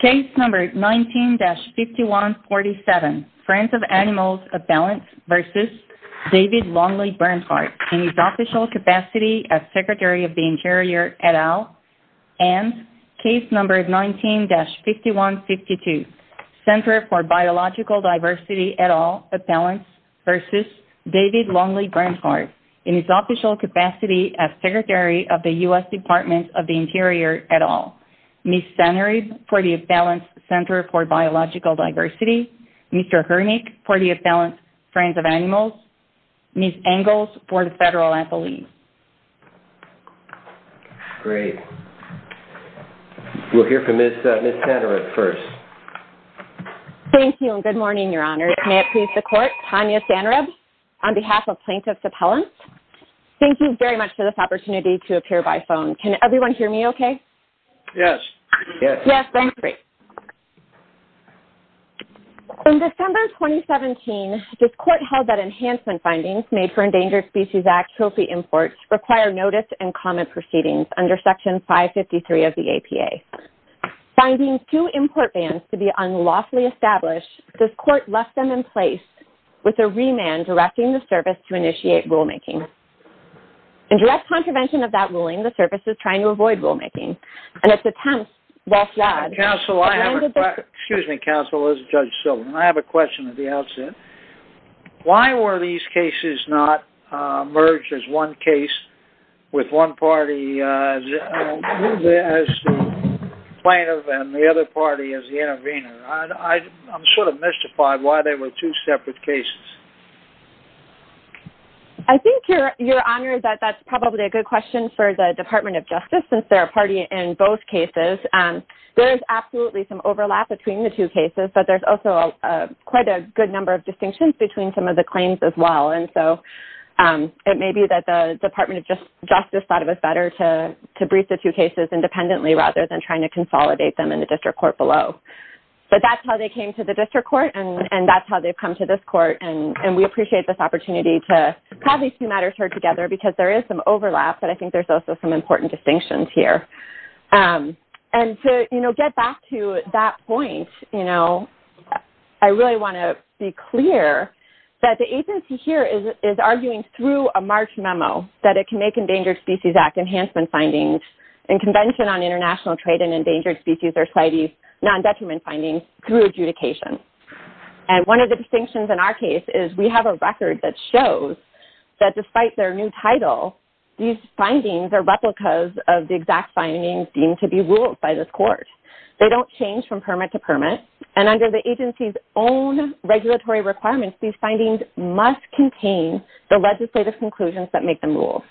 Case No. 19-5147, Friends of Animals Appellants v. David Longly Bernhardt, in his official capacity as Secretary of the Interior et al. Case No. 19-5152, Center for Biological Diversity et al. Appellants v. David Longly Bernhardt, in his official capacity as Secretary of the U.S. Department of the Interior et al. Ms. Sanerib for the Appellants Center for Biological Diversity Mr. Hernick for the Appellants Friends of Animals Ms. Engels for the Federal Appellees Great. We'll hear from Ms. Sanerib first. Thank you and good morning, Your Honor. May it please the Court, Tanya Sanerib, on behalf of Plaintiffs Appellants. Thank you very much for this opportunity to appear by phone. Can everyone hear me okay? Yes. Yes, thank you. Great. In December 2017, this Court held that enhancement findings made for Endangered Species Act trophy imports require notice and comment proceedings under Section 553 of the APA. Finding two import bans to be unlawfully established, this Court left them in place with a remand directing the Service to initiate rulemaking. In direct contravention of that ruling, the Service is trying to avoid rulemaking, and its attempts were flawed. Counsel, I have a question. Excuse me, Counsel, this is Judge Silverman. I have a question at the outset. Why were these cases not merged as one case with one party as the plaintiff and the other party as the intervener? I'm sort of mystified why they were two separate cases. I think, Your Honor, that that's probably a good question for the Department of Justice, since they're a party in both cases. There is absolutely some overlap between the two cases, but there's also quite a good number of distinctions between some of the claims as well. And so it may be that the Department of Justice thought it was better to brief the two cases independently rather than trying to consolidate them in the District Court below. But that's how they came to the District Court, and that's how they've come to this Court. And we appreciate this opportunity to have these two matters heard together, because there is some overlap, but I think there's also some important distinctions here. And to get back to that point, I really want to be clear that the agency here is arguing through a March memo that it can make Endangered Species Act enhancement findings and Convention on International Trade in Endangered Species or CITES non-detriment findings through adjudication. And one of the distinctions in our case is we have a record that shows that despite their new title, these findings are replicas of the exact findings deemed to be ruled by this Court. They don't change from permit to permit, and under the agency's own regulatory requirements, these findings must contain the legislative conclusions that make them rule.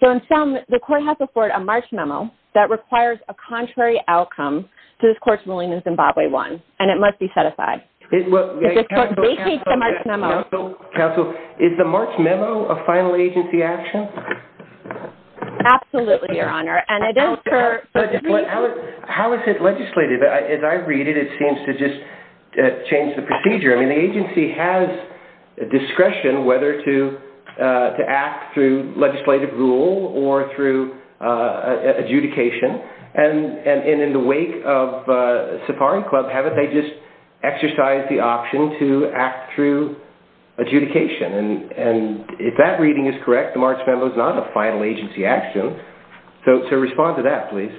So in sum, the Court has to afford a March memo that requires a contrary outcome to this Court's ruling in Zimbabwe 1, and it must be set aside. Counsel, is the March memo a final agency action? Absolutely, Your Honor. How is it legislated? As I read it, it seems to just change the procedure. I mean, the agency has discretion whether to act through legislative rule or through adjudication. And in the wake of Safari Club, haven't they just exercised the option to act through adjudication? And if that reading is correct, the March memo is not a final agency action. So respond to that, please.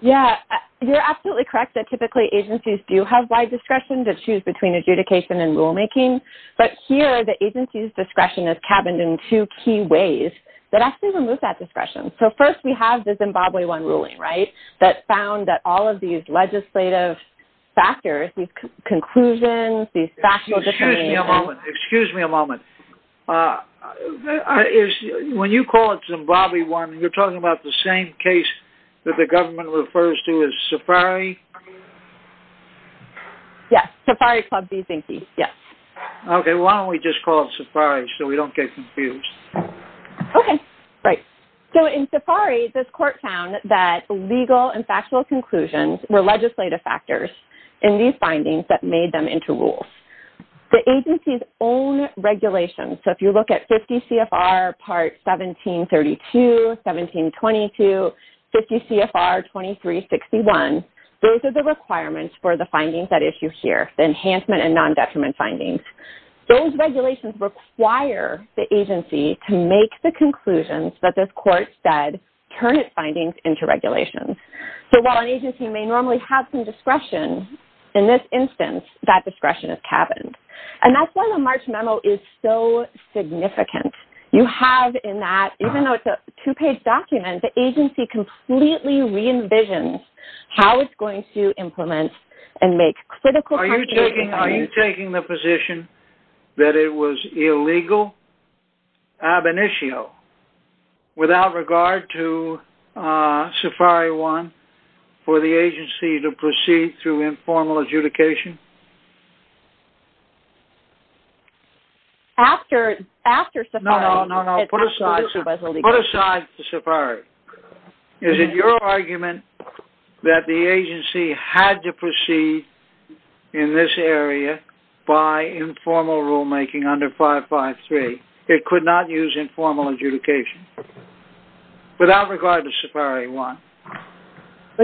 Yeah, you're absolutely correct that typically agencies do have wide discretion to choose between adjudication and rulemaking. But here, the agency's discretion is cabined in two key ways that actually remove that discretion. So first, we have the Zimbabwe 1 ruling, right, that found that all of these legislative factors, these conclusions, these factual differences— Excuse me a moment. Excuse me a moment. When you call it Zimbabwe 1, you're talking about the same case that the government refers to as Safari? Yes, Safari Club B-Zinky, yes. Okay, why don't we just call it Safari so we don't get confused? Okay, right. So in Safari, this court found that legal and factual conclusions were legislative factors in these findings that made them into rules. The agency's own regulations, so if you look at 50 CFR Part 1732, 1722, 50 CFR 2361, those are the requirements for the findings at issue here, the enhancement and non-detriment findings. Those regulations require the agency to make the conclusions that this court said turn its findings into regulations. So while an agency may normally have some discretion, in this instance, that discretion is cabined. And that's why the March memo is so significant. You have in that, even though it's a two-page document, the agency completely re-envisions how it's going to implement and make critical contributions. Are you taking the position that it was illegal ab initio, without regard to Safari 1, for the agency to proceed through informal adjudication? After Safari. No, no, no, put aside Safari. Is it your argument that the agency had to proceed in this area by informal rulemaking under 553? It could not use informal adjudication. Without regard to Safari 1.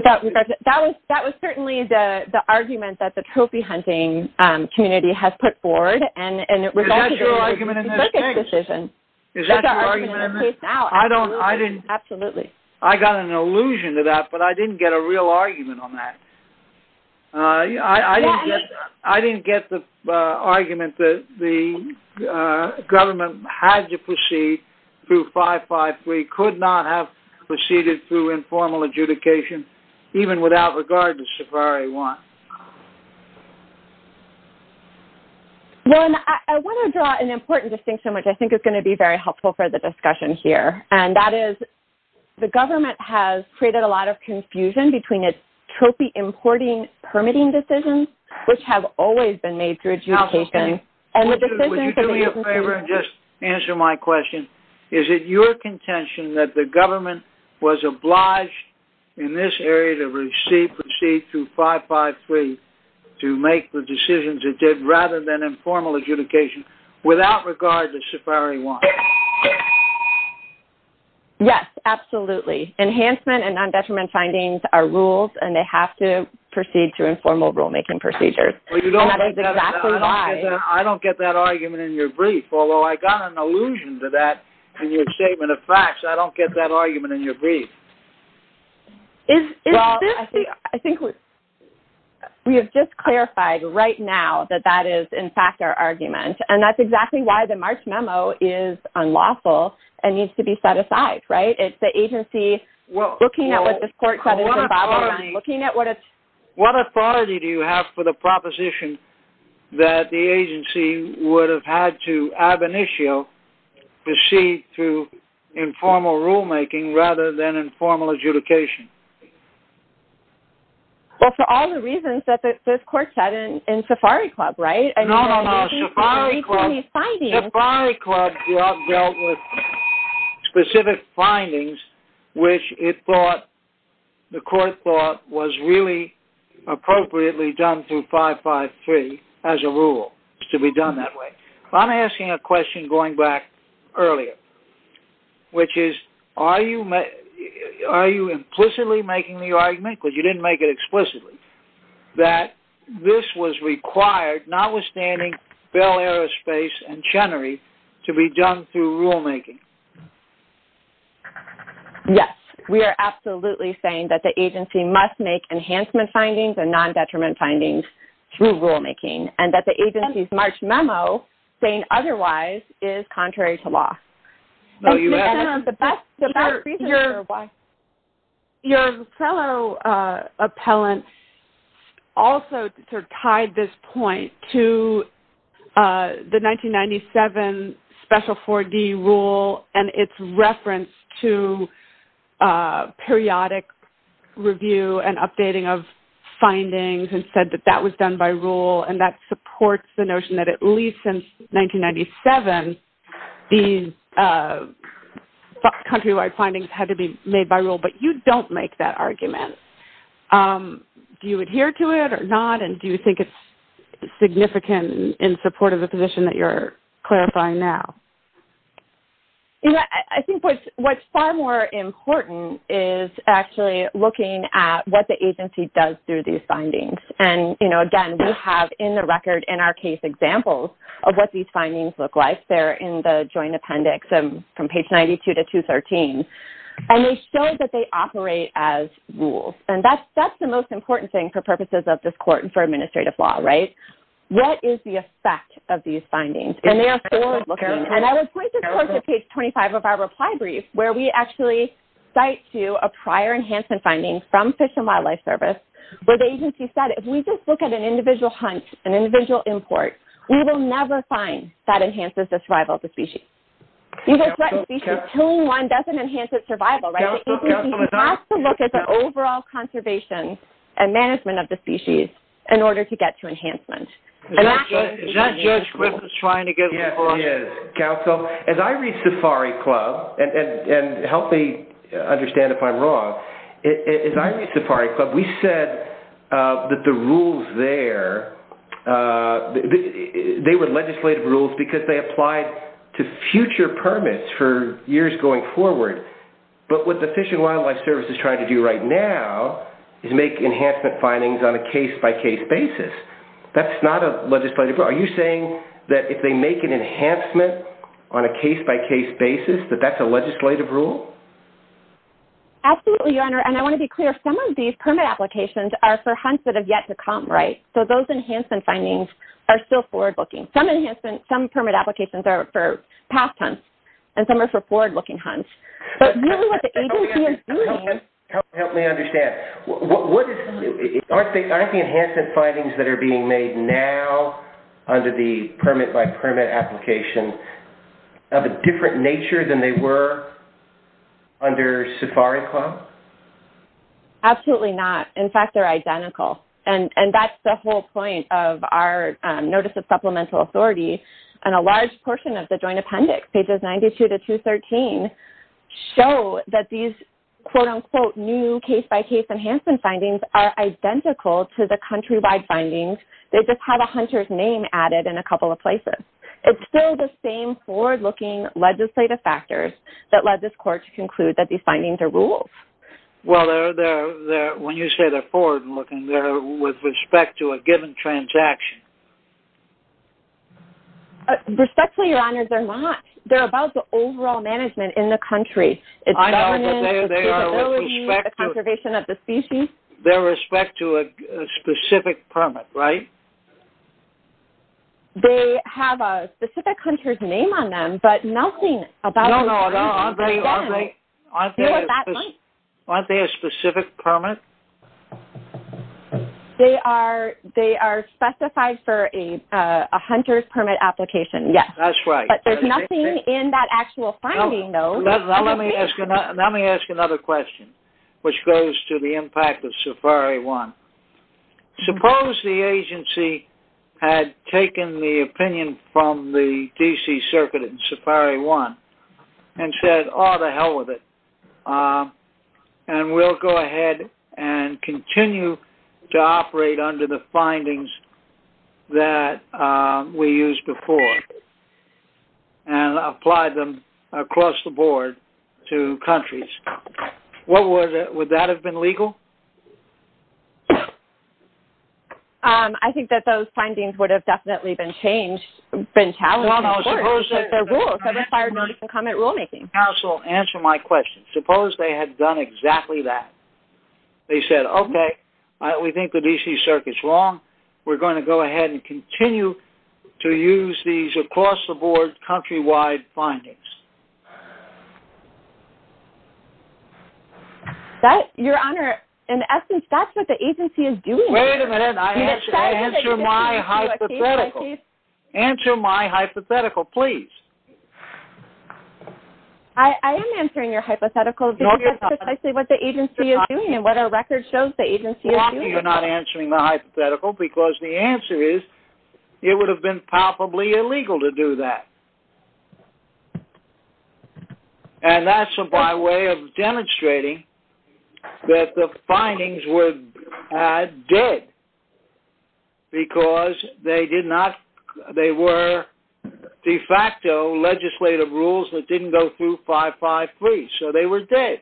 That was certainly the argument that the trophy hunting community has put forward. Is that your argument in this case? Is that your argument in this case? Absolutely. I got an allusion to that, but I didn't get a real argument on that. I didn't get the argument that the government had to proceed through 553, could not have proceeded through informal adjudication, even without regard to Safari 1. Well, and I want to draw an important distinction, which I think is going to be very helpful for the discussion here. And that is, the government has created a lot of confusion between its trophy importing permitting decisions, which have always been made through adjudication. Would you do me a favor and just answer my question? Is it your contention that the government was obliged in this area to proceed through 553 to make the decisions it did, rather than informal adjudication, without regard to Safari 1? Yes, absolutely. Enhancement and non-detriment findings are rules, and they have to proceed through informal rulemaking procedures. And that is exactly why... I don't get that argument in your brief, although I got an allusion to that in your statement of facts. I don't get that argument in your brief. Well, I think we have just clarified right now that that is, in fact, our argument. And that's exactly why the March memo is unlawful and needs to be set aside, right? It's the agency looking at what this court said... What authority do you have for the proposition that the agency would have had to ab initio proceed through informal rulemaking, rather than informal adjudication? Well, for all the reasons that this court said in Safari Club, right? No, no, no. Safari Club dealt with specific findings, which it thought, the court thought, was really appropriately done through 553 as a rule, to be done that way. I'm asking a question going back earlier, which is, are you implicitly making the argument, because you didn't make it explicitly, that this was required, notwithstanding Bell Aerospace and Chenery, to be done through rulemaking? Yes. We are absolutely saying that the agency must make enhancement findings and non-detriment findings through rulemaking. And that the agency's March memo, saying otherwise, is contrary to law. Your fellow appellant also tied this point to the 1997 Special 4D rule and its reference to periodic review and updating of findings, and said that that was done by rule, and that supports the notion that at least since 1997, these countrywide findings had to be made by rule. But you don't make that argument. Do you adhere to it or not? And do you think it's significant in support of the position that you're clarifying now? I think what's far more important is actually looking at what the agency does through these findings. And again, we have in the record, in our case, examples of what these findings look like. They're in the joint appendix from page 92 to 213. And they show that they operate as rules. And that's the most important thing for purposes of this court and for administrative law, right? What is the effect of these findings? And they are forward-looking. And I would point this court to page 25 of our reply brief, where we actually cite to a prior enhancement finding from Fish and Wildlife Service, where the agency said, if we just look at an individual hunt, an individual import, we will never find that enhances the survival of the species. You will threaten species. Killing one doesn't enhance its survival, right? The agency has to look at the overall conservation and management of the species in order to get to enhancement. Is that your script that's trying to get me lost? Yes, it is, counsel. As I read Safari Club, and help me understand if I'm wrong, as I read Safari Club, we said that the rules there, they were legislative rules because they applied to future permits for years going forward. But what the Fish and Wildlife Service is trying to do right now is make enhancement findings on a case-by-case basis. That's not a legislative rule. Are you saying that if they make an enhancement on a case-by-case basis, that that's a legislative rule? Absolutely, Your Honor. And I want to be clear. Some of these permit applications are for hunts that have yet to come, right? So those enhancement findings are still forward-looking. Some permit applications are for past hunts, and some are for forward-looking hunts. But really what the agency is doing… Help me understand. Aren't the enhancement findings that are being made now under the permit-by-permit application of a different nature than they were under Safari Club? Absolutely not. In fact, they're identical. And that's the whole point of our Notice of Supplemental Authority. And a large portion of the Joint Appendix, pages 92 to 213, show that these, quote-unquote, new case-by-case enhancement findings are identical to the countrywide findings. They just have a hunter's name added in a couple of places. It's still the same forward-looking legislative factors that led this Court to conclude that these findings are rules. Well, when you say they're forward-looking, they're with respect to a given transaction. Respectfully, Your Honors, they're not. They're about the overall management in the country. I know, but they are with respect to… The conservation of the species. They're with respect to a specific permit, right? They have a specific hunter's name on them, but nothing about… No, no, no. Aren't they a specific permit? They are specified for a hunter's permit application, yes. That's right. But there's nothing in that actual finding, though. Let me ask another question, which goes to the impact of SAFARI 1. Suppose the agency had taken the opinion from the D.C. Circuit in SAFARI 1 and said, and we'll go ahead and continue to operate under the findings that we used before and apply them across the board to countries. Would that have been legal? I think that those findings would have definitely been challenged by the Court. It's their rules. That would have inspired notice and comment rulemaking. Counsel, answer my question. Suppose they had done exactly that. They said, okay, we think the D.C. Circuit's wrong. We're going to go ahead and continue to use these across the board, countrywide findings. Your Honor, in essence, that's what the agency is doing. Wait a minute. Answer my hypothetical. Answer my hypothetical, please. I am answering your hypothetical because that's precisely what the agency is doing and what our record shows the agency is doing. You're not answering my hypothetical because the answer is, it would have been palpably illegal to do that. And that's by way of demonstrating that the findings were dead because they were de facto legislative rules that didn't go through 553. So they were dead.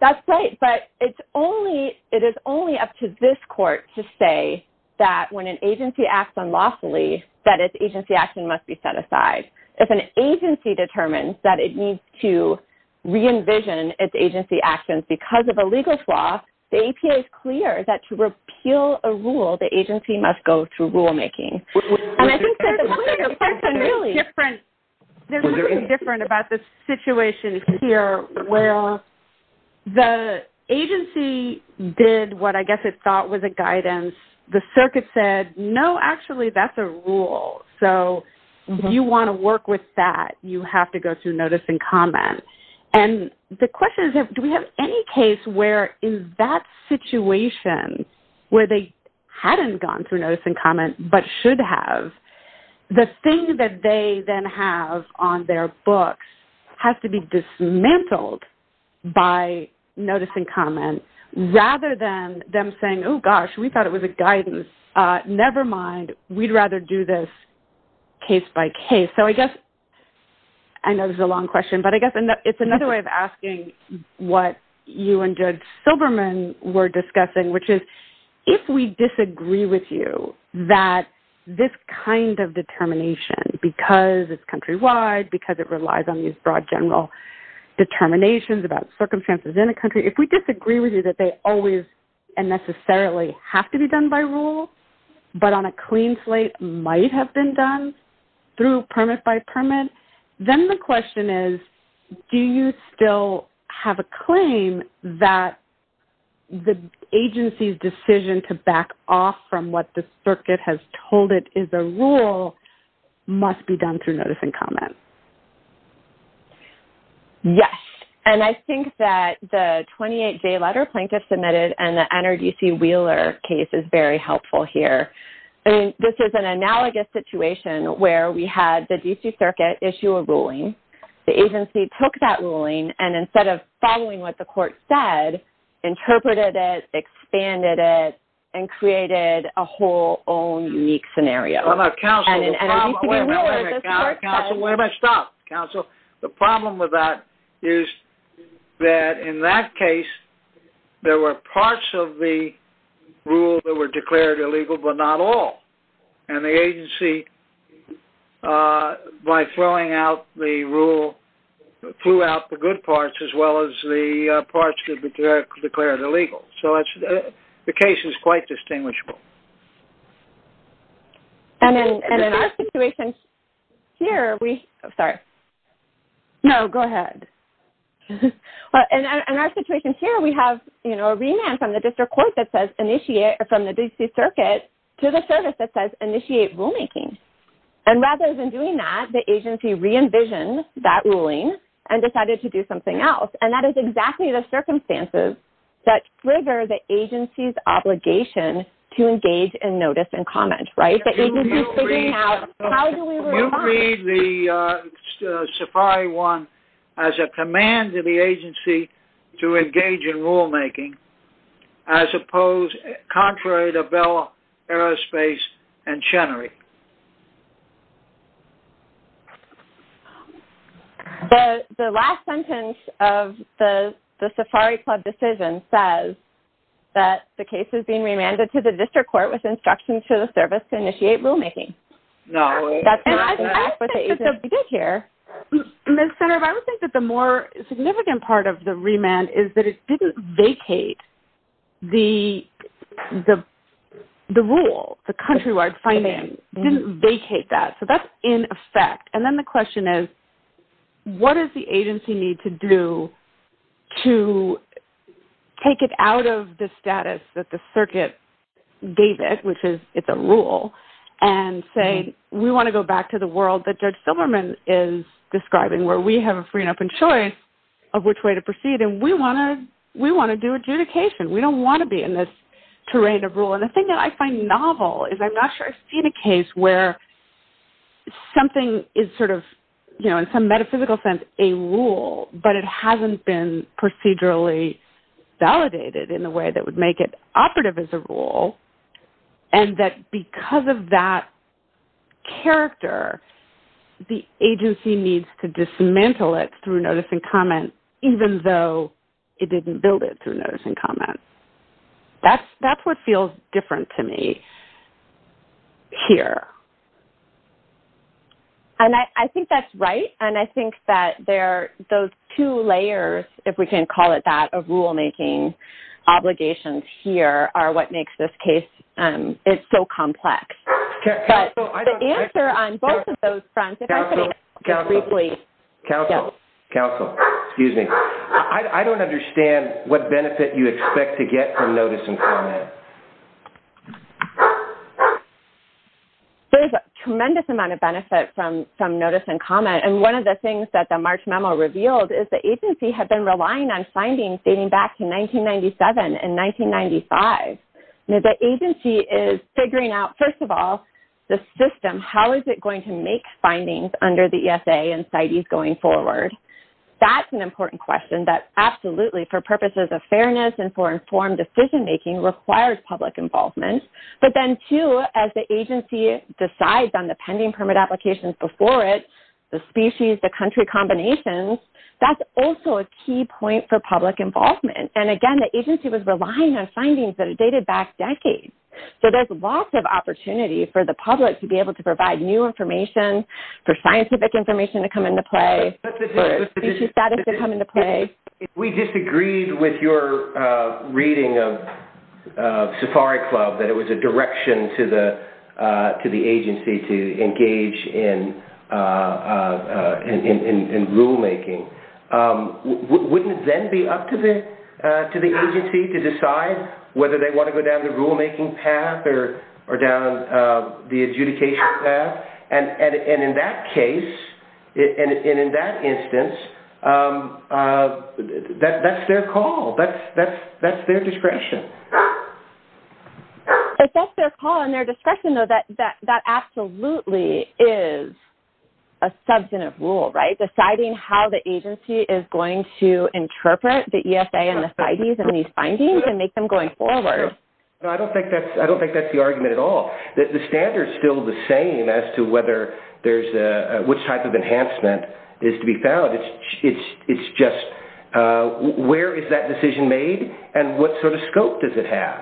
That's right. But it is only up to this Court to say that when an agency acts unlawfully, that its agency action must be set aside. If an agency determines that it needs to re-envision its agency actions because of a legal flaw, the APA is clear that to repeal a rule, the agency must go through rulemaking. And I think there's a difference about the situation here where the agency did what I guess it thought was a guidance. The Circuit said, no, actually, that's a rule. So you want to work with that. You have to go through notice and comment. And the question is, do we have any case where in that situation where they hadn't gone through notice and comment but should have, the thing that they then have on their books has to be dismantled by notice and comment rather than them saying, oh, gosh, we thought it was a guidance. Never mind. We'd rather do this case by case. So I guess I know this is a long question, but I guess it's another way of asking what you and Judge Silberman were discussing, which is if we disagree with you that this kind of determination because it's countrywide, because it relies on these broad general determinations about circumstances in a country, if we disagree with you that they always and necessarily have to be done by rule but on a clean slate might have been done through permit by permit, then the question is, do you still have a claim that the agency's decision to back off from what the circuit has told it is a rule must be done through notice and comment? Yes. And I think that the 28-day letter plaintiff submitted and the NRDC Wheeler case is very helpful here. This is an analogous situation where we had the D.C. Circuit issue a ruling. The agency took that ruling and instead of following what the court said, interpreted it, expanded it, and created a whole own unique scenario. Counsel, wait a minute. Counsel, wait a minute. Stop. Counsel, the problem with that is that in that case there were parts of the rule that were declared illegal but not all. And the agency, by throwing out the rule, threw out the good parts as well as the parts that were declared illegal. So the case is quite distinguishable. And in our situation here we have a remand from the D.C. Circuit to the service that says initiate rulemaking. And rather than doing that, the agency re-envisioned that ruling and decided to do something else. And that is exactly the circumstances that trigger the agency's obligation to engage in notice and comment. The agency's figuring out how do we respond. Do you read the SAFARI 1 as a command to the agency to engage in rulemaking as opposed, contrary to Bell, Aerospace, and Chenery? The last sentence of the SAFARI Club decision says that the case is being remanded to the district court with instructions to the service to initiate rulemaking. I would think that the more significant part of the remand is that it didn't vacate the rule, the countrywide finding. It didn't vacate that. So that's in effect. And then the question is what does the agency need to do to take it out of the status that the circuit gave it, which is it's a rule, and say we want to go back to the world that Judge Silverman is describing where we have a free and open choice of which way to proceed. And we want to do adjudication. We don't want to be in this terrain of rule. And the thing that I find novel is I'm not sure I've seen a case where something is sort of, you know, in some metaphysical sense a rule, but it hasn't been procedurally validated in a way that would make it operative as a rule, and that because of that character, the agency needs to dismantle it through notice and comment, even though it didn't build it through notice and comment. That's what feels different to me here. And I think that's right, and I think that those two layers, if we can call it that, of rulemaking obligations here are what makes this case so complex. But the answer on both of those fronts, if I could ask you briefly. Counsel, counsel, excuse me. I don't understand what benefit you expect to get from notice and comment. There's a tremendous amount of benefit from notice and comment, and one of the things that the March memo revealed is the agency had been relying on findings dating back to 1997 and 1995. The agency is figuring out, first of all, the system. How is it going to make findings under the ESA and CITES going forward? That's an important question that absolutely, for purposes of fairness and for informed decision-making, requires public involvement. But then, too, as the agency decides on the pending permit applications before it, the species, the country combinations, that's also a key point for public involvement. And, again, the agency was relying on findings that are dated back decades. So there's lots of opportunity for the public to be able to provide new information, for scientific information to come into play, for species status to come into play. We disagreed with your reading of Safari Club, that it was a direction to the agency to engage in rulemaking. Wouldn't it then be up to the agency to decide whether they want to go down the rulemaking path or down the adjudication path? And in that case, and in that instance, that's their call. That's their discretion. But that's their call and their discretion, though. That absolutely is a substantive rule, right, deciding how the agency is going to interpret the ESA and the CITES and these findings and make them going forward. I don't think that's the argument at all. The standard is still the same as to whether there's a – which type of enhancement is to be found. It's just where is that decision made and what sort of scope does it have?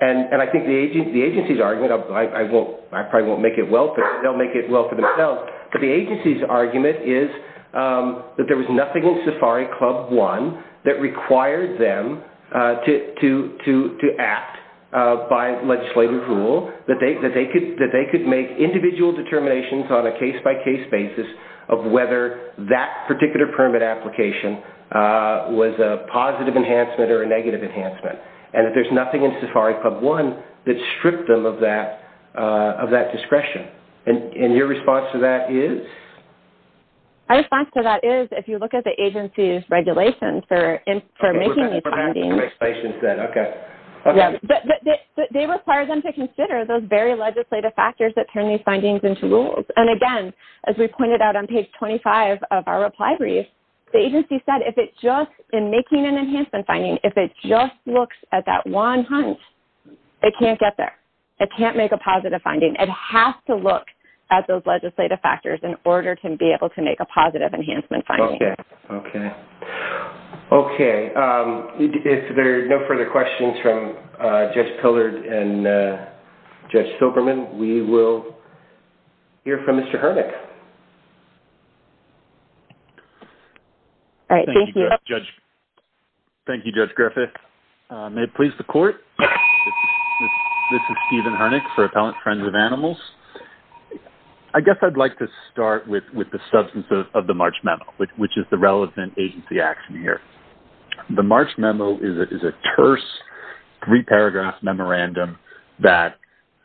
And I think the agency's argument – I probably won't make it well for them. They'll make it well for themselves. But the agency's argument is that there was nothing in Safari Club 1 that required them to act by legislative rule, that they could make individual determinations on a case-by-case basis of whether that particular permit application was a positive enhancement or a negative enhancement, and that there's nothing in Safari Club 1 that stripped them of that discretion. And your response to that is? My response to that is, if you look at the agency's regulations for making these findings – Okay, we're back to the regulations then. Okay. They require them to consider those very legislative factors that turn these findings into rules. And again, as we pointed out on page 25 of our reply brief, the agency said if it just – in making an enhancement finding, if it just looks at that one hunch, it can't get there. It can't make a positive finding. It has to look at those legislative factors in order to be able to make a positive enhancement finding. Okay. Okay. Okay. If there are no further questions from Judge Pillard and Judge Silberman, we will hear from Mr. Hernick. All right. Thank you. Thank you, Judge Griffith. May it please the Court, this is Stephen Hernick for Appellant Friends of Animals. I guess I'd like to start with the substance of the March Memo, which is the relevant agency action here. The March Memo is a terse three-paragraph memorandum that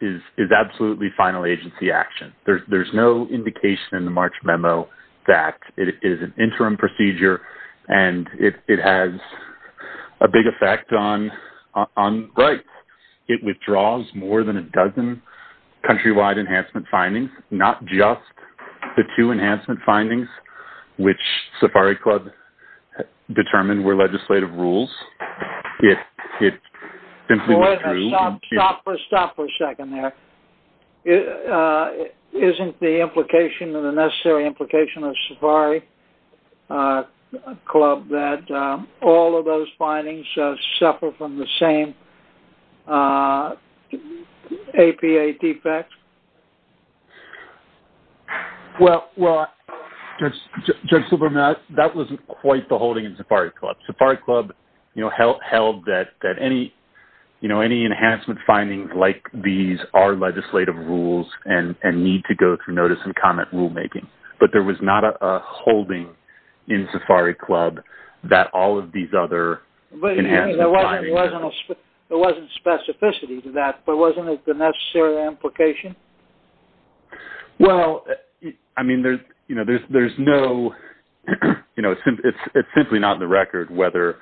is absolutely final agency action. There's no indication in the March Memo that it is an interim procedure and it has a big effect on rights. It withdraws more than a dozen countrywide enhancement findings, not just the two enhancement findings, which Safari Club determined were legislative rules. Wait a minute. Stop for a second there. Isn't the implication and the necessary implication of Safari Club that all of those findings suffer from the same APA defect? Well, Judge Silberman, that wasn't quite the holding in Safari Club. Safari Club held that any enhancement findings like these are legislative rules and need to go through notice and comment rulemaking. But there was not a holding in Safari Club that all of these other enhancements… Wait a minute. There wasn't specificity to that, but wasn't it the necessary implication? It's simply not in the record whether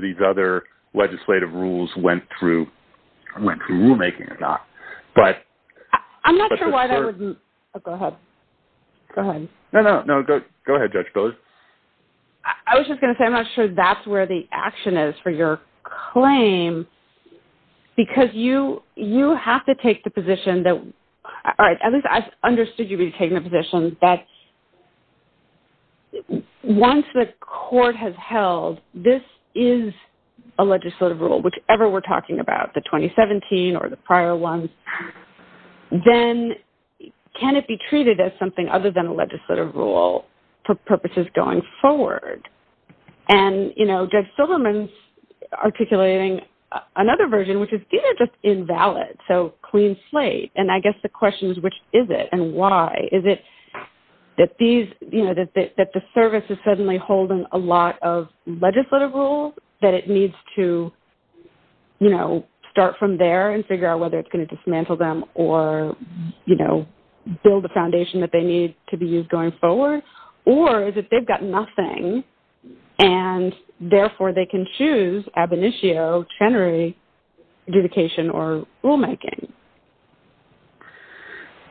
these other legislative rules went through rulemaking or not. I'm not sure why that would… Oh, go ahead. Go ahead. No, no. Go ahead, Judge Pillard. I was just going to say I'm not sure that's where the action is for your claim because you have to take the position that… All right. At least I've understood you've been taking the position that once the court has held this is a legislative rule, whichever we're talking about, the 2017 or the prior ones, then can it be treated as something other than a legislative rule for purposes going forward? And Judge Silberman's articulating another version, which is these are just invalid, so clean slate. And I guess the question is which is it and why? Is it that the service is suddenly holding a lot of legislative rules that it needs to start from there and figure out whether it's going to dismantle them or build the foundation that they need to be used going forward? Or is it they've got nothing, and therefore they can choose ab initio, tenere, adjudication, or rulemaking?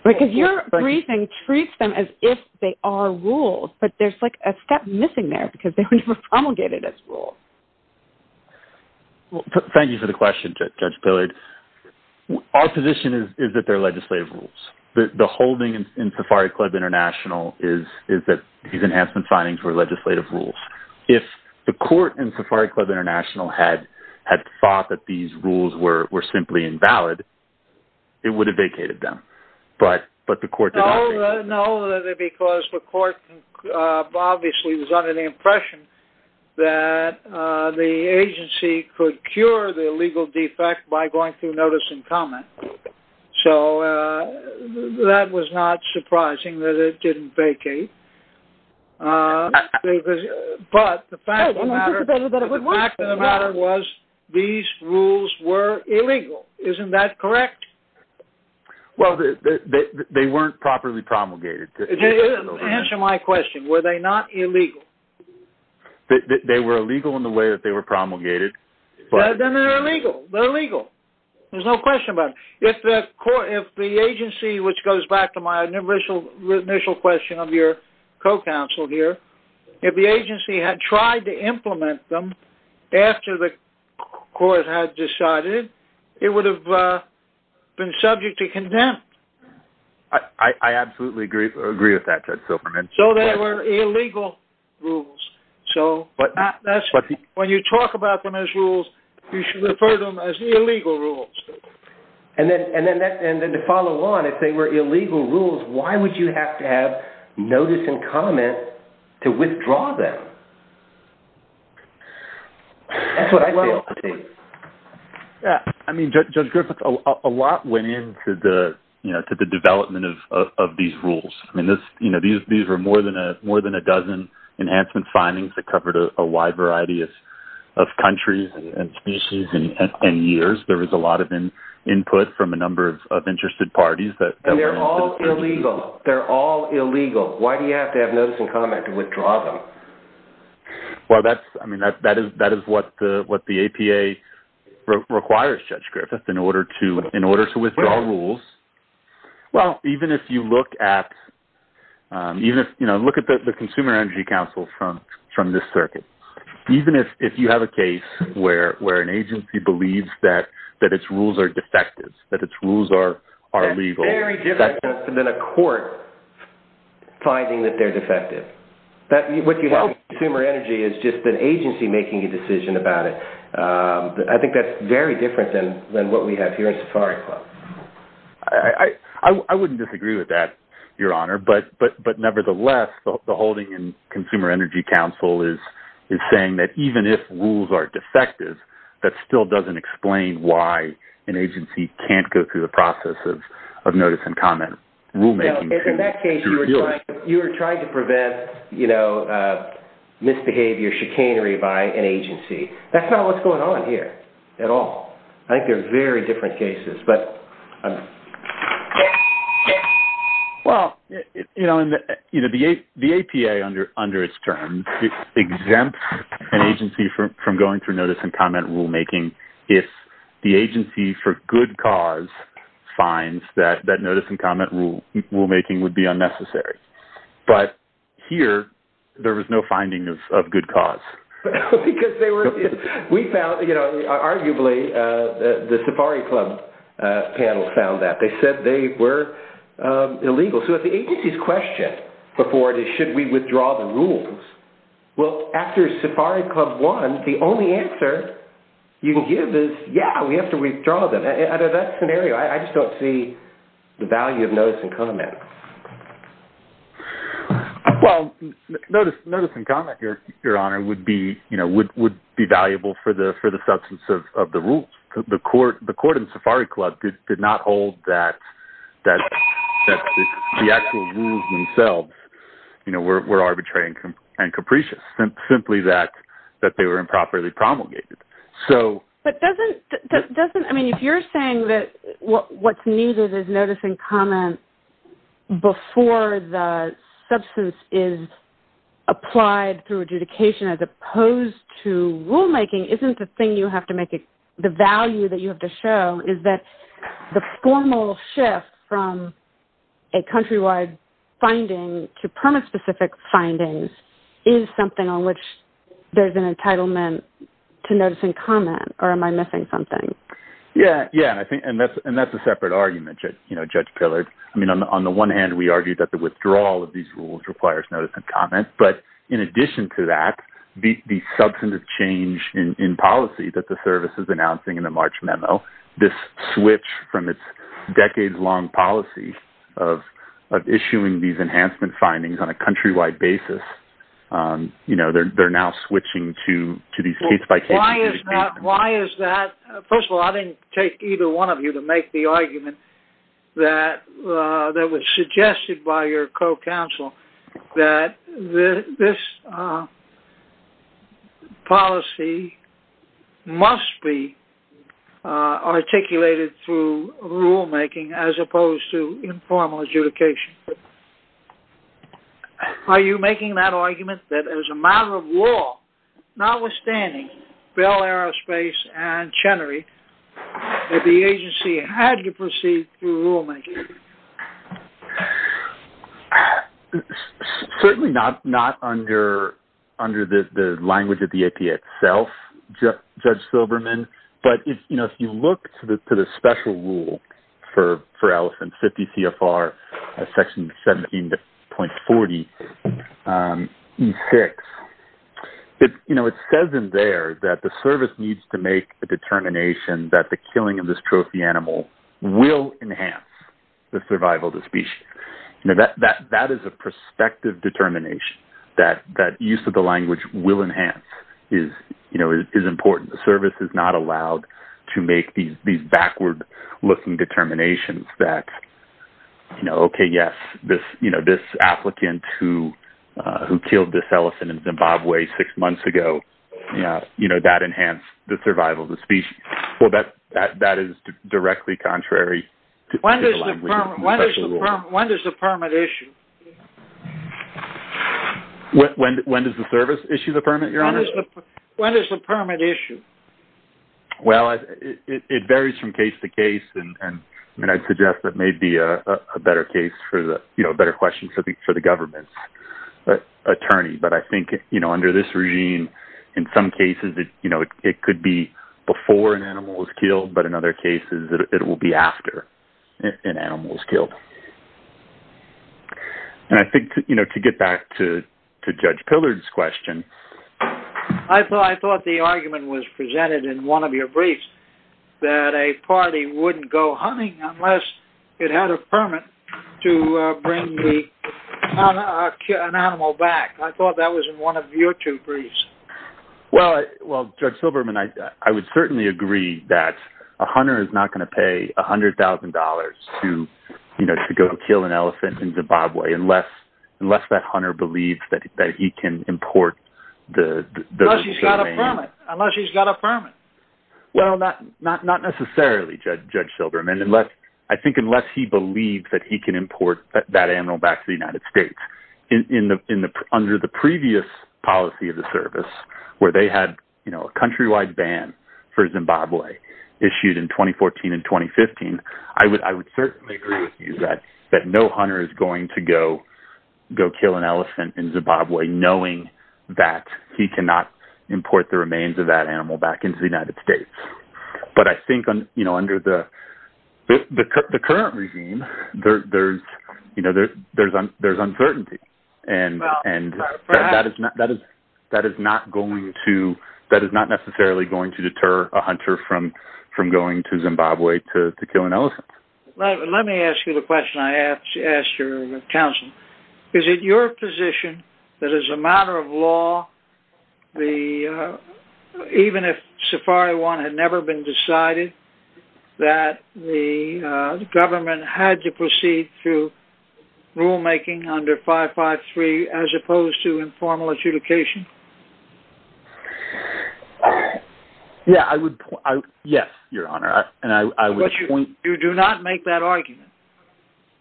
Because your briefing treats them as if they are rules, but there's like a step missing there because they were promulgated as rules. Thank you for the question, Judge Pillard. Our position is that they're legislative rules. The holding in Safari Club International is that these enhancement findings were legislative rules. If the court in Safari Club International had thought that these rules were simply invalid, it would have vacated them, but the court did not vacate them. No, because the court obviously was under the impression that the agency could cure the illegal defect by going through notice and comment. So that was not surprising that it didn't vacate. But the fact of the matter was these rules were illegal. Isn't that correct? Well, they weren't properly promulgated. Answer my question. Were they not illegal? They were illegal in the way that they were promulgated. Then they're illegal. They're illegal. There's no question about it. If the agency, which goes back to my initial question of your co-counsel here, if the agency had tried to implement them after the court had decided, it would have been subject to condemn. I absolutely agree with that, Judge Silberman. So they were illegal rules. When you talk about them as rules, you should refer to them as illegal rules. And then to follow on, if they were illegal rules, why would you have to have notice and comment to withdraw them? That's what I feel. I mean, Judge Griffith, a lot went into the development of these rules. I mean, these were more than a dozen enhancement findings that covered a wide variety of countries and species and years. There was a lot of input from a number of interested parties. And they're all illegal. They're all illegal. Why do you have to have notice and comment to withdraw them? Well, that is what the APA requires, Judge Griffith, in order to withdraw rules. Well, even if you look at the Consumer Energy Council from this circuit, even if you have a case where an agency believes that its rules are defective, that its rules are illegal. That's very different than a court finding that they're defective. What you have in Consumer Energy is just an agency making a decision about it. I think that's very different than what we have here in Safari Club. I wouldn't disagree with that, Your Honor. But nevertheless, the holding in Consumer Energy Council is saying that even if rules are defective, that still doesn't explain why an agency can't go through the process of notice and comment rulemaking. In that case, you were trying to prevent misbehavior, chicanery by an agency. That's not what's going on here at all. I think they're very different cases. The APA, under its terms, exempts an agency from going through notice and comment rulemaking if the agency, for good cause, finds that notice and comment rulemaking would be unnecessary. But here, there was no finding of good cause. Arguably, the Safari Club panel found that. They said they were illegal. So if the agency's question before it is, should we withdraw the rules? Well, after Safari Club won, the only answer you can give is, yeah, we have to withdraw them. Under that scenario, I just don't see the value of notice and comment. Well, notice and comment, Your Honor, would be valuable for the substance of the rules. The court in Safari Club did not hold that the actual rules themselves were arbitrary and capricious, simply that they were improperly promulgated. If you're saying that what's needed is notice and comment before the substance is applied through adjudication as opposed to rulemaking, isn't the thing you have to make it—the value that you have to show is that the formal shift from a countrywide finding to permit-specific findings is something on which there's an entitlement to notice and comment, or am I missing something? Yeah, and that's a separate argument, Judge Pillard. I mean, on the one hand, we argue that the withdrawal of these rules requires notice and comment. But in addition to that, the substantive change in policy that the service is announcing in the March memo, this switch from its decades-long policy of issuing these enhancement findings on a countrywide basis, they're now switching to these case-by-case— Why is that? First of all, I didn't take either one of you to make the argument that was suggested by your co-counsel that this policy must be articulated through rulemaking as opposed to informal adjudication. Are you making that argument that as a matter of law, notwithstanding Bell Aerospace and Chenery, that the agency had to proceed through rulemaking? Certainly not under the language of the APA itself, Judge Silberman, but if you look to the special rule for elephant 50 CFR section 17.40 E6, it says in there that the service needs to make a determination that the killing of this trophy animal will enhance. The survival of the species. That is a prospective determination that use of the language will enhance is important. The service is not allowed to make these backward-looking determinations that, okay, yes, this applicant who killed this elephant in Zimbabwe six months ago, that enhanced the survival of the species. That is directly contrary to the language of the special rule. When does the permit issue? When does the service issue the permit, Your Honor? When does the permit issue? Well, it varies from case to case, and I'd suggest that may be a better question for the government attorney. But I think under this regime, in some cases it could be before an animal was killed, but in other cases it will be after an animal was killed. And I think to get back to Judge Pillard's question, I thought the argument was presented in one of your briefs that a party wouldn't go hunting unless it had a permit to bring an animal back. I thought that was in one of your two briefs. Well, Judge Silberman, I would certainly agree that a hunter is not going to pay $100,000 to go kill an elephant in Zimbabwe unless that hunter believes that he can import the... Unless he's got a permit. Well, not necessarily, Judge Silberman. I think unless he believes that he can import that animal back to the United States, under the previous policy of the service where they had a countrywide ban for Zimbabwe issued in 2014 and 2015, I would certainly agree with you that no hunter is going to go kill an elephant in Zimbabwe knowing that he cannot import the remains of that animal back into the United States. But I think under the current regime, there's uncertainty. And that is not necessarily going to deter a hunter from going to Zimbabwe to kill an elephant. Let me ask you the question I asked your counsel. Is it your position that as a matter of law, even if Safari 1 had never been decided, that the government had to proceed through rulemaking under 553 as opposed to informal adjudication? Yes, Your Honor.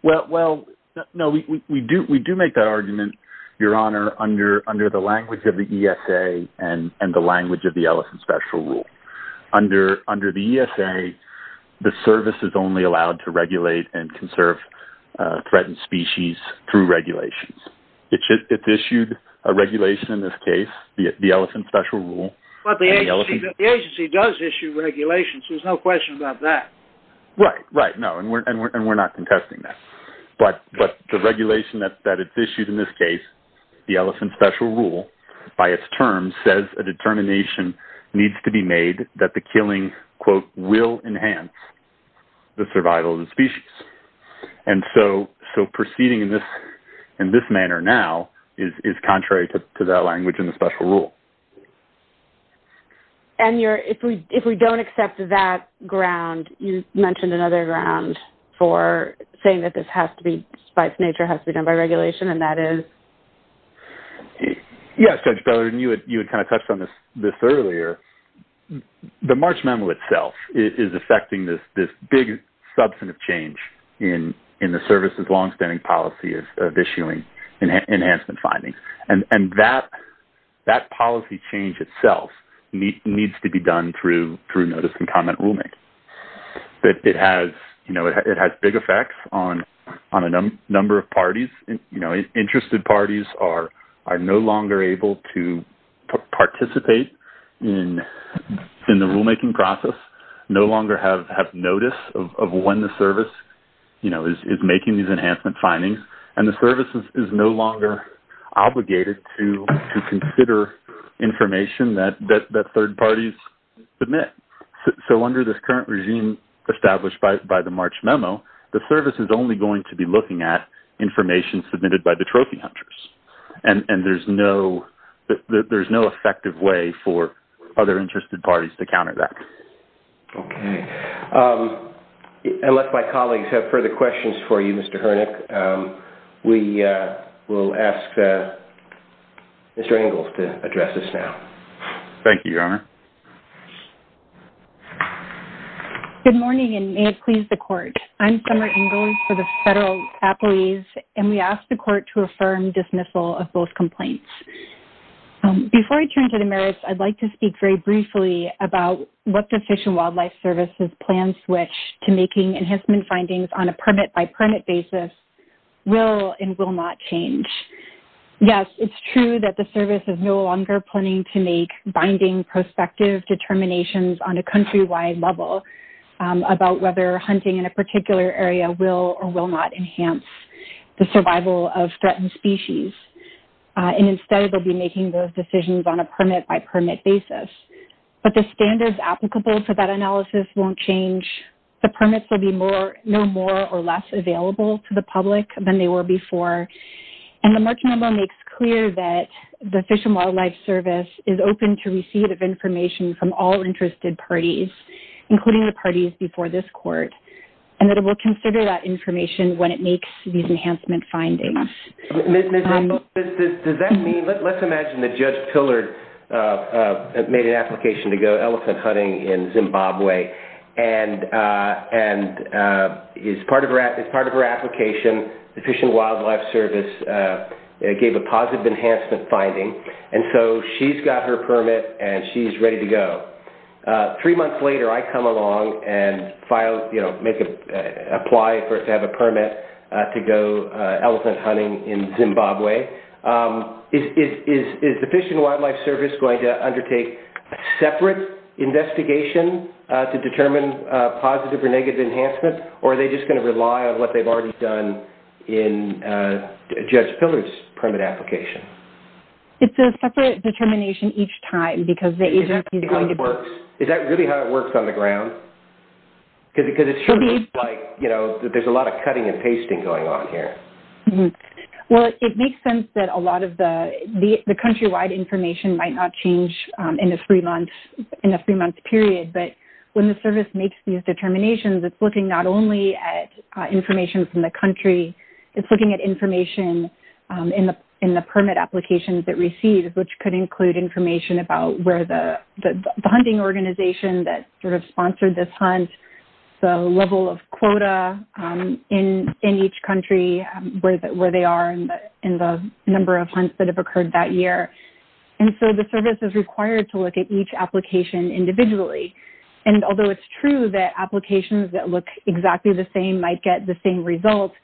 Well, no, we do make that argument, Your Honor, under the language of the ESA and the language of the Elephant Special Rule. Under the ESA, the service is only allowed to regulate and conserve threatened species through regulations. It's issued a regulation in this case, the Elephant Special Rule. But the agency does issue regulations. There's no question about that. Right, right, no, and we're not contesting that. But the regulation that it's issued in this case, the Elephant Special Rule, by its terms says a determination needs to be made that the killing, quote, will enhance the survival of the species. And so proceeding in this manner now is contrary to that language in the Special Rule. And if we don't accept that ground, you mentioned another ground for saying that this has to be, by its nature, has to be done by regulation, and that is? Yes, Judge Bellerin, you had kind of touched on this earlier. The March Memo itself is effecting this big substantive change in the service's longstanding policy of issuing enhancement findings. And that policy change itself needs to be done through notice and comment rulemaking. But it has big effects on a number of parties. Interested parties are no longer able to participate in the rulemaking process, no longer have notice of when the service is making these enhancement findings, and the service is no longer obligated to consider information that third parties submit. So under this current regime established by the March Memo, the service is only going to be looking at information submitted by the trophy hunters. And there's no effective way for other interested parties to counter that. Okay. I'll let my colleagues have further questions for you, Mr. Hoernig. We will ask Mr. Ingalls to address this now. Thank you, Your Honor. Good morning, and may it please the Court. I'm Summer Ingalls for the federal employees, and we ask the Court to affirm dismissal of both complaints. Before I turn to the merits, I'd like to speak very briefly about what the Fish and Wildlife Service's plan switch to making enhancement findings on a permit-by-permit basis will and will not change. Yes, it's true that the service is no longer planning to make binding prospective determinations on a countrywide level about whether hunting in a particular area will or will not enhance the survival of threatened species. And instead, they'll be making those decisions on a permit-by-permit basis. But the standards applicable to that analysis won't change. The permits will be no more or less available to the public than they were before. And the March Memo makes clear that the Fish and Wildlife Service is open to receipt of information from all interested parties, including the parties before this Court, and that it will consider that information when it makes these enhancement findings. Ms. Engalls, let's imagine that Judge Pillard made an application to go elephant hunting in Zimbabwe. And as part of her application, the Fish and Wildlife Service gave a positive enhancement finding. And so she's got her permit, and she's ready to go. Three months later, I come along and apply to have a permit to go elephant hunting in Zimbabwe. Is the Fish and Wildlife Service going to undertake a separate investigation to determine positive or negative enhancement, or are they just going to rely on what they've already done in Judge Pillard's permit application? It's a separate determination each time, because the agency is going to... Is that really how it works on the ground? Because it sure looks like there's a lot of cutting and pasting going on here. Well, it makes sense that a lot of the countrywide information might not change in a three-month period. But when the service makes these determinations, it's looking not only at information from the country, it's looking at information in the permit applications it receives, which could include information about where the hunting organization that sort of sponsored this hunt, the level of quota in each country, where they are, and the number of hunts that have occurred that year. And so the service is required to look at each application individually. And although it's true that applications that look exactly the same might get the same results,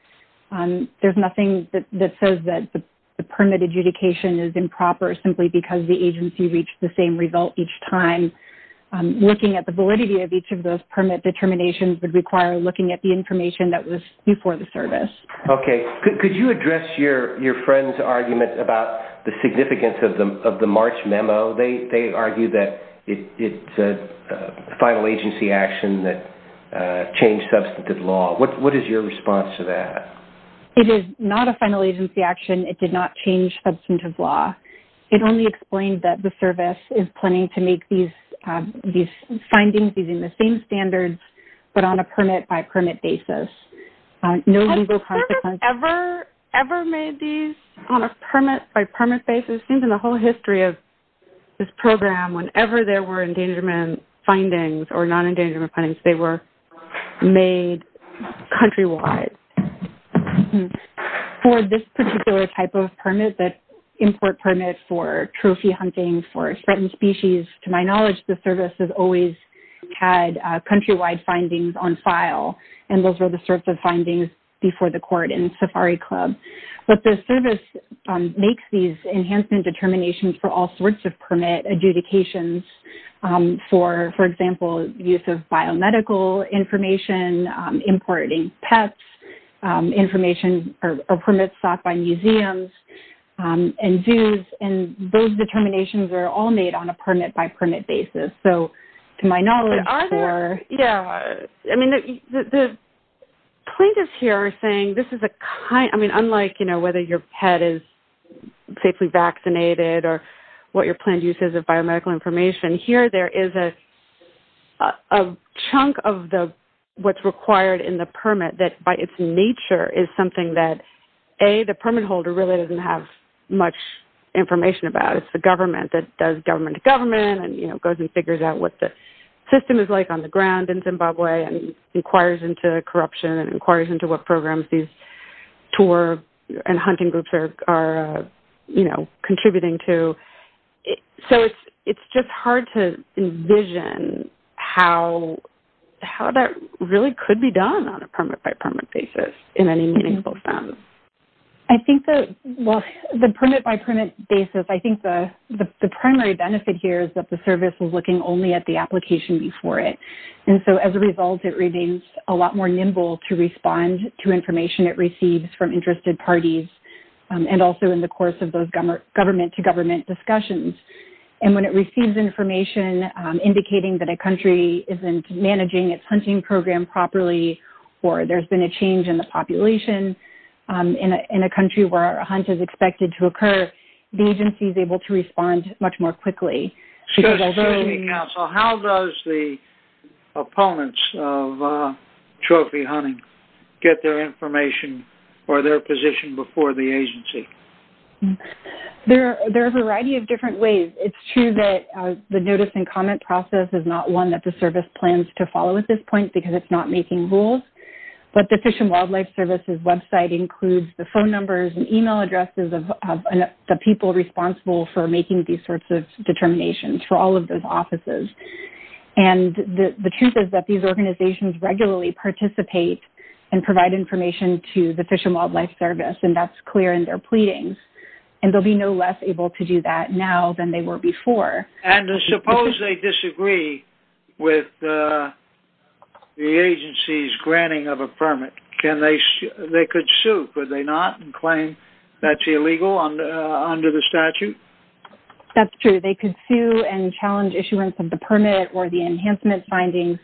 there's nothing that says that the permit adjudication is improper simply because the agency reached the same result each time. Looking at the validity of each of those permit determinations would require looking at the information that was before the service. Okay. Could you address your friend's argument about the significance of the March memo? They argue that it's a final agency action that changed substantive law. What is your response to that? It is not a final agency action. It did not change substantive law. It only explained that the service is planning to make these findings using the same standards, but on a permit-by-permit basis. Has the service ever made these on a permit-by-permit basis? Well, it seems in the whole history of this program, whenever there were endangerment findings or non-endangerment findings, they were made countrywide. For this particular type of permit, that import permit for trophy hunting, for threatened species, to my knowledge the service has always had countrywide findings on file, and those were the sorts of findings before the court in Safari Club. But the service makes these enhancement determinations for all sorts of permit adjudications for, for example, use of biomedical information, importing pets, information or permits sought by museums and zoos, and those determinations are all made on a permit-by-permit basis. But are there, yeah, I mean, the plaintiffs here are saying this is a kind, I mean, unlike, you know, whether your pet is safely vaccinated or what your planned use is of biomedical information, here there is a chunk of what's required in the permit that by its nature is something that, A, the permit holder really doesn't have much information about. It's the government that does government-to-government and, you know, goes and figures out what the system is like on the ground in Zimbabwe and inquires into corruption and inquires into what programs these tour and hunting groups are, you know, contributing to. So it's just hard to envision how that really could be done on a permit-by-permit basis in any meaningful sense. I think that, well, the permit-by-permit basis, I think the primary benefit here is that the service is looking only at the application before it. And so as a result, it remains a lot more nimble to respond to information it receives from interested parties and also in the course of those government-to-government discussions. And when it receives information indicating that a country isn't managing its hunting program properly or there's been a change in the population in a country where a hunt is expected to occur, the agency is able to respond much more quickly. So how does the opponents of trophy hunting get their information or their position before the agency? There are a variety of different ways. It's true that the notice and comment process is not one that the service plans to follow at this point because it's not making rules. But the Fish and Wildlife Service's website includes the phone numbers and email addresses of the people responsible for making these sorts of determinations for all of those offices. And the truth is that these organizations regularly participate and provide information to the Fish and Wildlife Service, and that's clear in their pleadings. And they'll be no less able to do that now than they were before. And suppose they disagree with the agency's granting of a permit. They could sue, could they not, and claim that's illegal under the statute? That's true. They could sue and challenge issuance of the permit or the enhancement findings.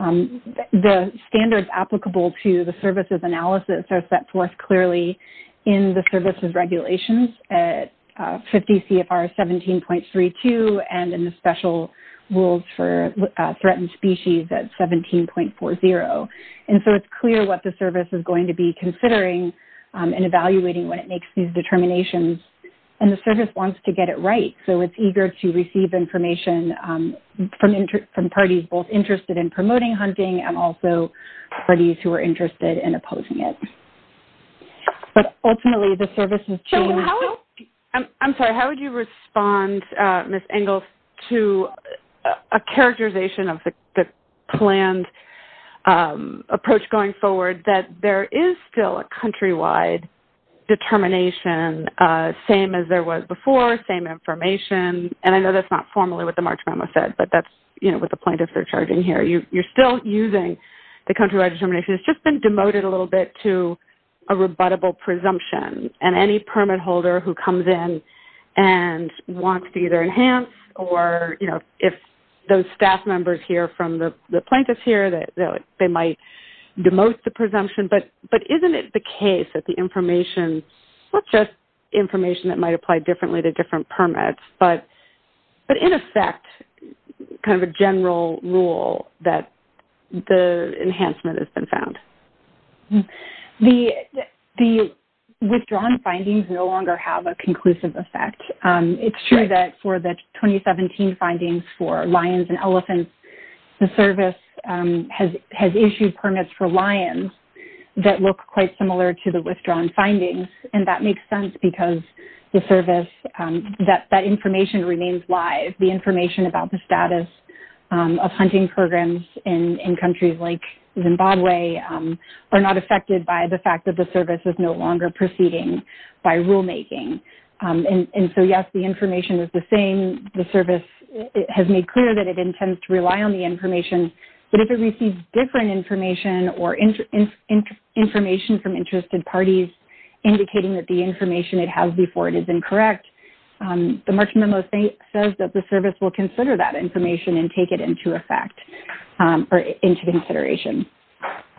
The standards applicable to the services analysis are set forth clearly in the services regulations. 50 CFR 17.32 and in the special rules for threatened species at 17.40. And so it's clear what the service is going to be considering and evaluating when it makes these determinations. And the service wants to get it right. So it's eager to receive information from parties both interested in promoting hunting and also parties who are interested in opposing it. But ultimately the service is changing. I'm sorry, how would you respond, Ms. Engels, to a characterization of the planned approach going forward that there is still a countrywide determination, same as there was before, same information. And I know that's not formally what the March memo said, but that's, you know, what the plaintiffs are charging here. You're still using the countrywide determination. It's just been demoted a little bit to a rebuttable presumption. And any permit holder who comes in and wants to either enhance or, you know, if those staff members hear from the plaintiffs here, they might demote the presumption. But isn't it the case that the information, not just information that might apply differently to different permits, but in effect kind of a general rule that the enhancement has been found? The withdrawn findings no longer have a conclusive effect. It's true that for the 2017 findings for lions and elephants, the service has issued permits for lions that look quite similar to the withdrawn findings. And that makes sense because the service, that information remains live. The information about the status of hunting programs in countries like Zimbabwe are not affected by the fact that the service is no longer proceeding by rulemaking. And so, yes, the information is the same. The service has made clear that it intends to rely on the information. But if it receives different information or information from interested parties indicating that the information it has before it is incorrect, the March Memo says that the service will consider that information and take it into effect or into consideration.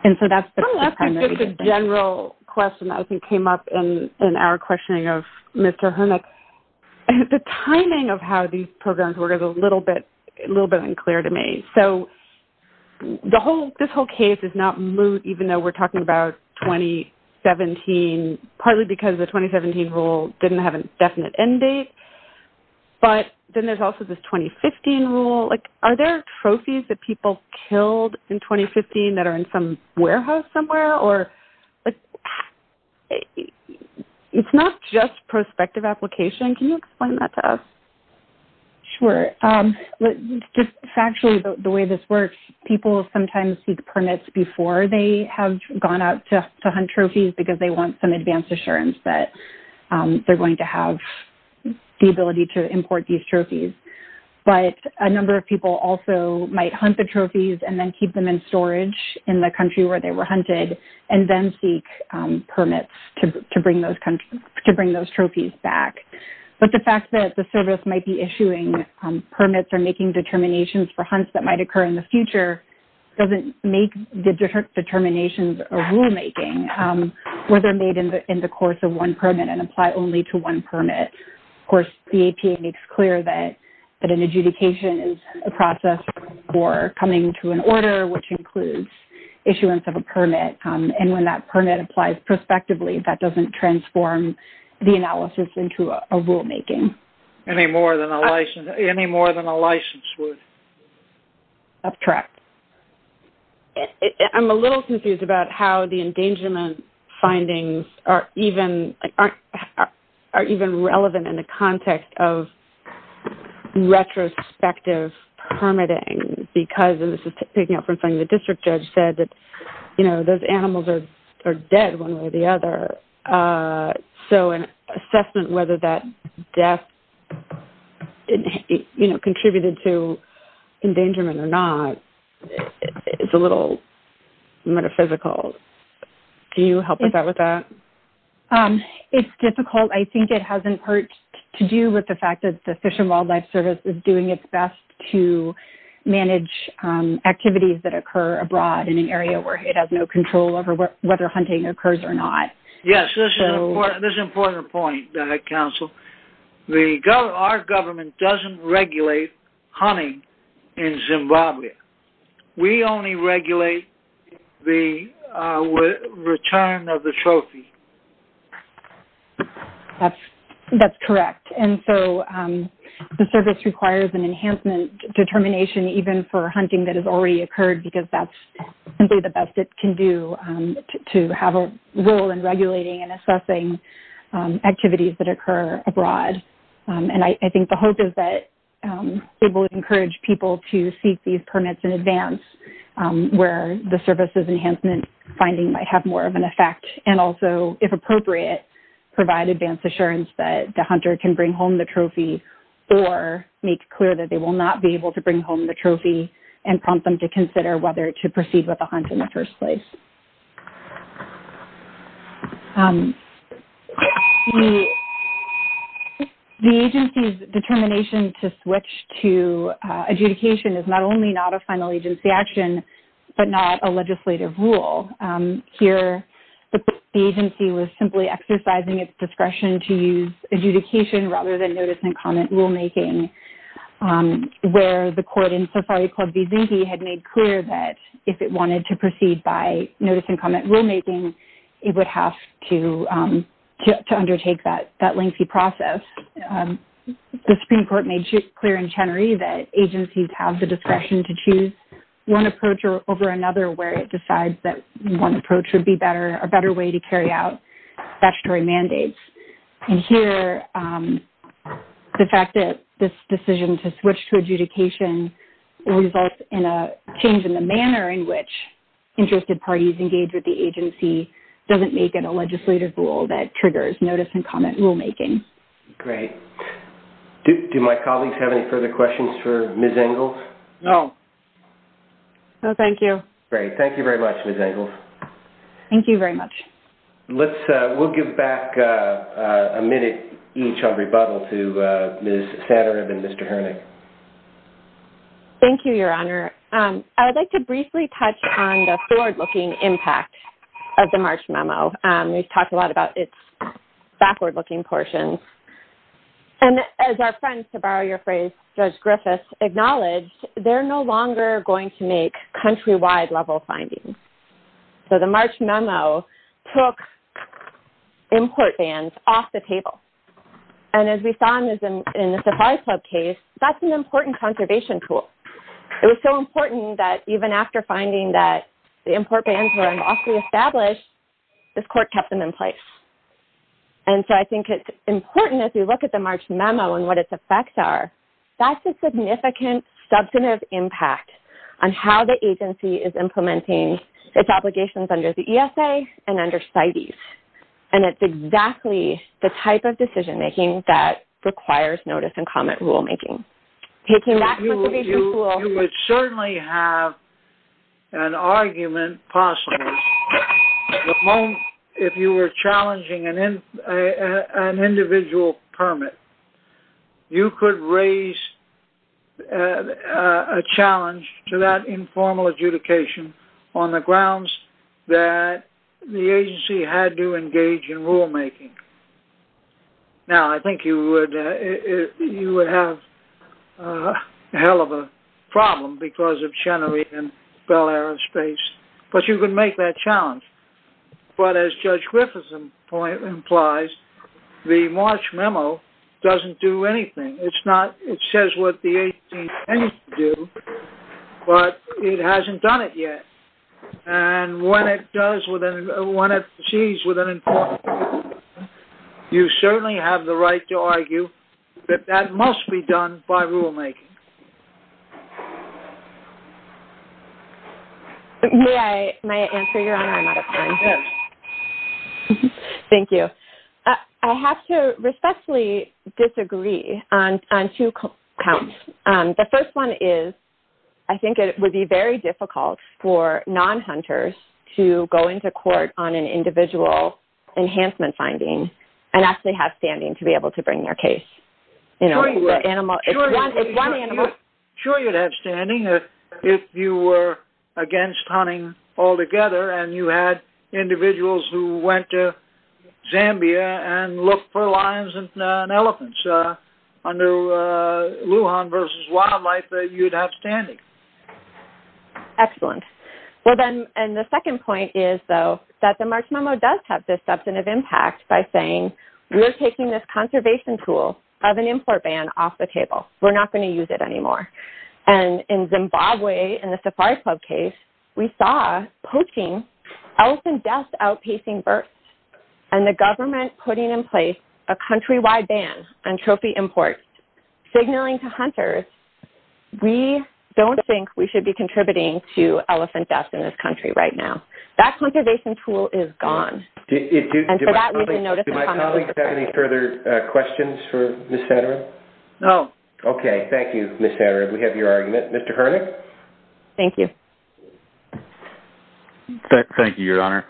And so that's the primary thing. That's just a general question that I think came up in our questioning of Mr. Hermick. The timing of how these programs work is a little bit unclear to me. So this whole case is not moot, even though we're talking about 2017, partly because the 2017 rule didn't have a definite end date. But then there's also this 2015 rule. Are there trophies that people killed in 2015 that are in some warehouse somewhere? It's not just prospective application. Can you explain that to us? Sure. Just factually, the way this works, people sometimes seek permits before they have gone out to hunt trophies because they want some advance assurance that they're going to have the ability to import these trophies. But a number of people also might hunt the trophies and then keep them in storage in the country where they were hunted and then seek permits to bring those trophies back. But the fact that the service might be issuing permits or making determinations for hunts that might occur in the future doesn't make the determinations a rulemaking, where they're made in the course of one permit and apply only to one permit. Of course, the APA makes clear that an adjudication is a process for coming to an order, which includes issuance of a permit. And when that permit applies prospectively, that doesn't transform the analysis into a rulemaking. Any more than a license would. That's correct. I'm a little confused about how the endangerment findings are even relevant in the context of retrospective permitting because, and this is picking up from something the district judge said, that those animals are dead one way or the other. So an assessment whether that death contributed to endangerment or not is a little metaphysical. Do you help with that? It's difficult. I think it has in part to do with the fact that the Fish and Wildlife Service is doing its best to manage activities that occur abroad in an area where it has no control over whether hunting occurs or not. Yes, this is an important point, Counsel. Our government doesn't regulate hunting in Zimbabwe. We only regulate the return of the trophy. That's correct. And so the service requires an enhancement determination even for hunting that has already occurred because that's simply the best it can do to have a role in regulating and assessing activities that occur abroad. And I think the hope is that it will encourage people to seek these permits in advance where the service's enhancement finding might have more of an effect and also, if appropriate, provide advance assurance that the hunter can bring home the trophy or make clear that they will not be able to bring home the trophy and prompt them to consider whether to proceed with the hunt in the first place. The agency's determination to switch to adjudication is not only not a final agency action but not a legislative rule. Here, the agency was simply exercising its discretion to use adjudication rather than notice and comment rulemaking, where the court in Safari Club v. Zinke had made clear that if it wanted to proceed by notice and comment rulemaking, it would have to undertake that lengthy process. The Supreme Court made clear in Chenery that agencies have the discretion to choose one approach over another where it decides that one approach would be a better way to carry out statutory mandates. And here, the fact that this decision to switch to adjudication results in a change in the manner in which interested parties engage with the agency doesn't make it a legislative rule that triggers notice and comment rulemaking. Great. Do my colleagues have any further questions for Ms. Engels? No. No, thank you. Great. Thank you very much, Ms. Engels. Thank you very much. We'll give back a minute each on rebuttal to Ms. Sanner and Mr. Hernick. Thank you, Your Honor. I would like to briefly touch on the forward-looking impact of the March memo. We've talked a lot about its backward-looking portion. And as our friends, to borrow your phrase, Judge Griffiths, acknowledged they're no longer going to make countrywide-level findings. So the March memo took import bans off the table. And as we saw in the Safari Club case, that's an important conservation tool. It was so important that even after finding that the import bans were unlawfully established, this court kept them in place. And so I think it's important, if you look at the March memo and what its effects are, that's a significant substantive impact on how the agency is implementing its obligations under the ESA and under CITES. And it's exactly the type of decision-making that requires notice and comment rulemaking. You would certainly have an argument, possibly, if you were challenging an individual permit, you could raise a challenge to that informal adjudication on the grounds that the agency had to engage in rulemaking. Now, I think you would have a hell of a problem because of Chenery and Bell Aerospace. But you could make that challenge. But as Judge Griffith's point implies, the March memo doesn't do anything. It says what the agency needs to do, but it hasn't done it yet. And when it sees with an informal adjudication, you certainly have the right to argue that that must be done by rulemaking. May I answer your honor? I'm out of time. Thank you. I have to respectfully disagree on two counts. The first one is I think it would be very difficult for non-hunters to go into court on an individual enhancement finding and actually have standing to be able to bring their case. Sure, you'd have standing if you were against hunting altogether and you had individuals who went to Zambia and looked for lions and elephants under Lujan versus wildlife, you'd have standing. Excellent. And the second point is, though, that the March memo does have this substantive impact by saying we're taking this conservation tool of an import ban off the table. We're not going to use it anymore. And in Zimbabwe, in the Safari Club case, we saw poaching, elephant deaths outpacing births, and the government putting in place a countrywide ban on trophy imports signaling to hunters we don't think we should be contributing to elephant deaths in this country right now. That conservation tool is gone. Do my colleagues have any further questions for Ms. Satterthwaite? No. Okay. Thank you, Ms. Satterthwaite. We have your argument. Mr. Herlich? Thank you. Thank you, Your Honor.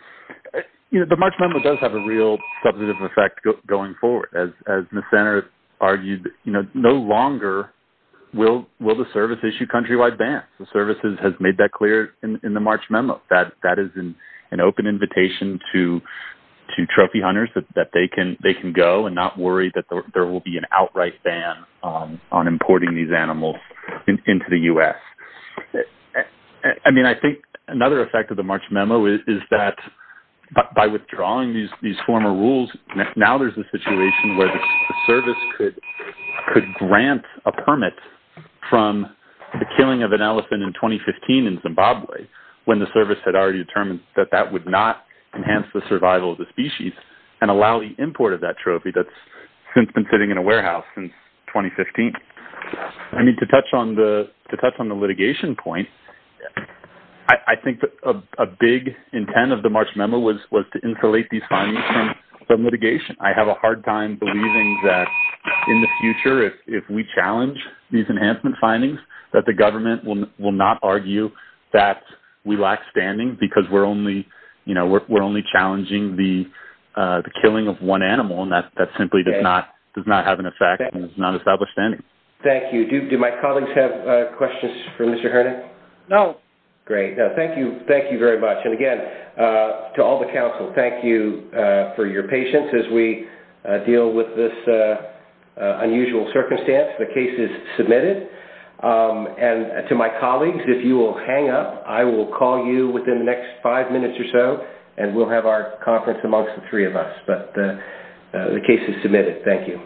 The March memo does have a real substantive effect going forward. As Ms. Satterthwaite argued, no longer will the service issue countrywide bans. The service has made that clear in the March memo. That is an open invitation to trophy hunters that they can go and not worry that there will be an outright ban on importing these animals into the U.S. I mean, I think another effect of the March memo is that by withdrawing these former rules, now there's a situation where the service could grant a permit from the killing of an elephant in 2015 in Zimbabwe when the service had already determined that that would not enhance the survival of the species and allow the import of that trophy that's since been sitting in a warehouse since 2015. I mean, to touch on the litigation point, I think a big intent of the March memo was to insulate these findings from litigation. I have a hard time believing that in the future, if we challenge these enhancement findings, that the government will not argue that we lack standing because we're only challenging the killing of one animal, and that simply does not have an effect and is not established standing. Thank you. Do my colleagues have questions for Mr. Hoernig? No. Great. Thank you very much. And again, to all the council, thank you for your patience as we deal with this unusual circumstance. The case is submitted. And to my colleagues, if you will hang up, I will call you within the next five minutes or so, and we'll have our conference amongst the three of us. But the case is submitted. Thank you.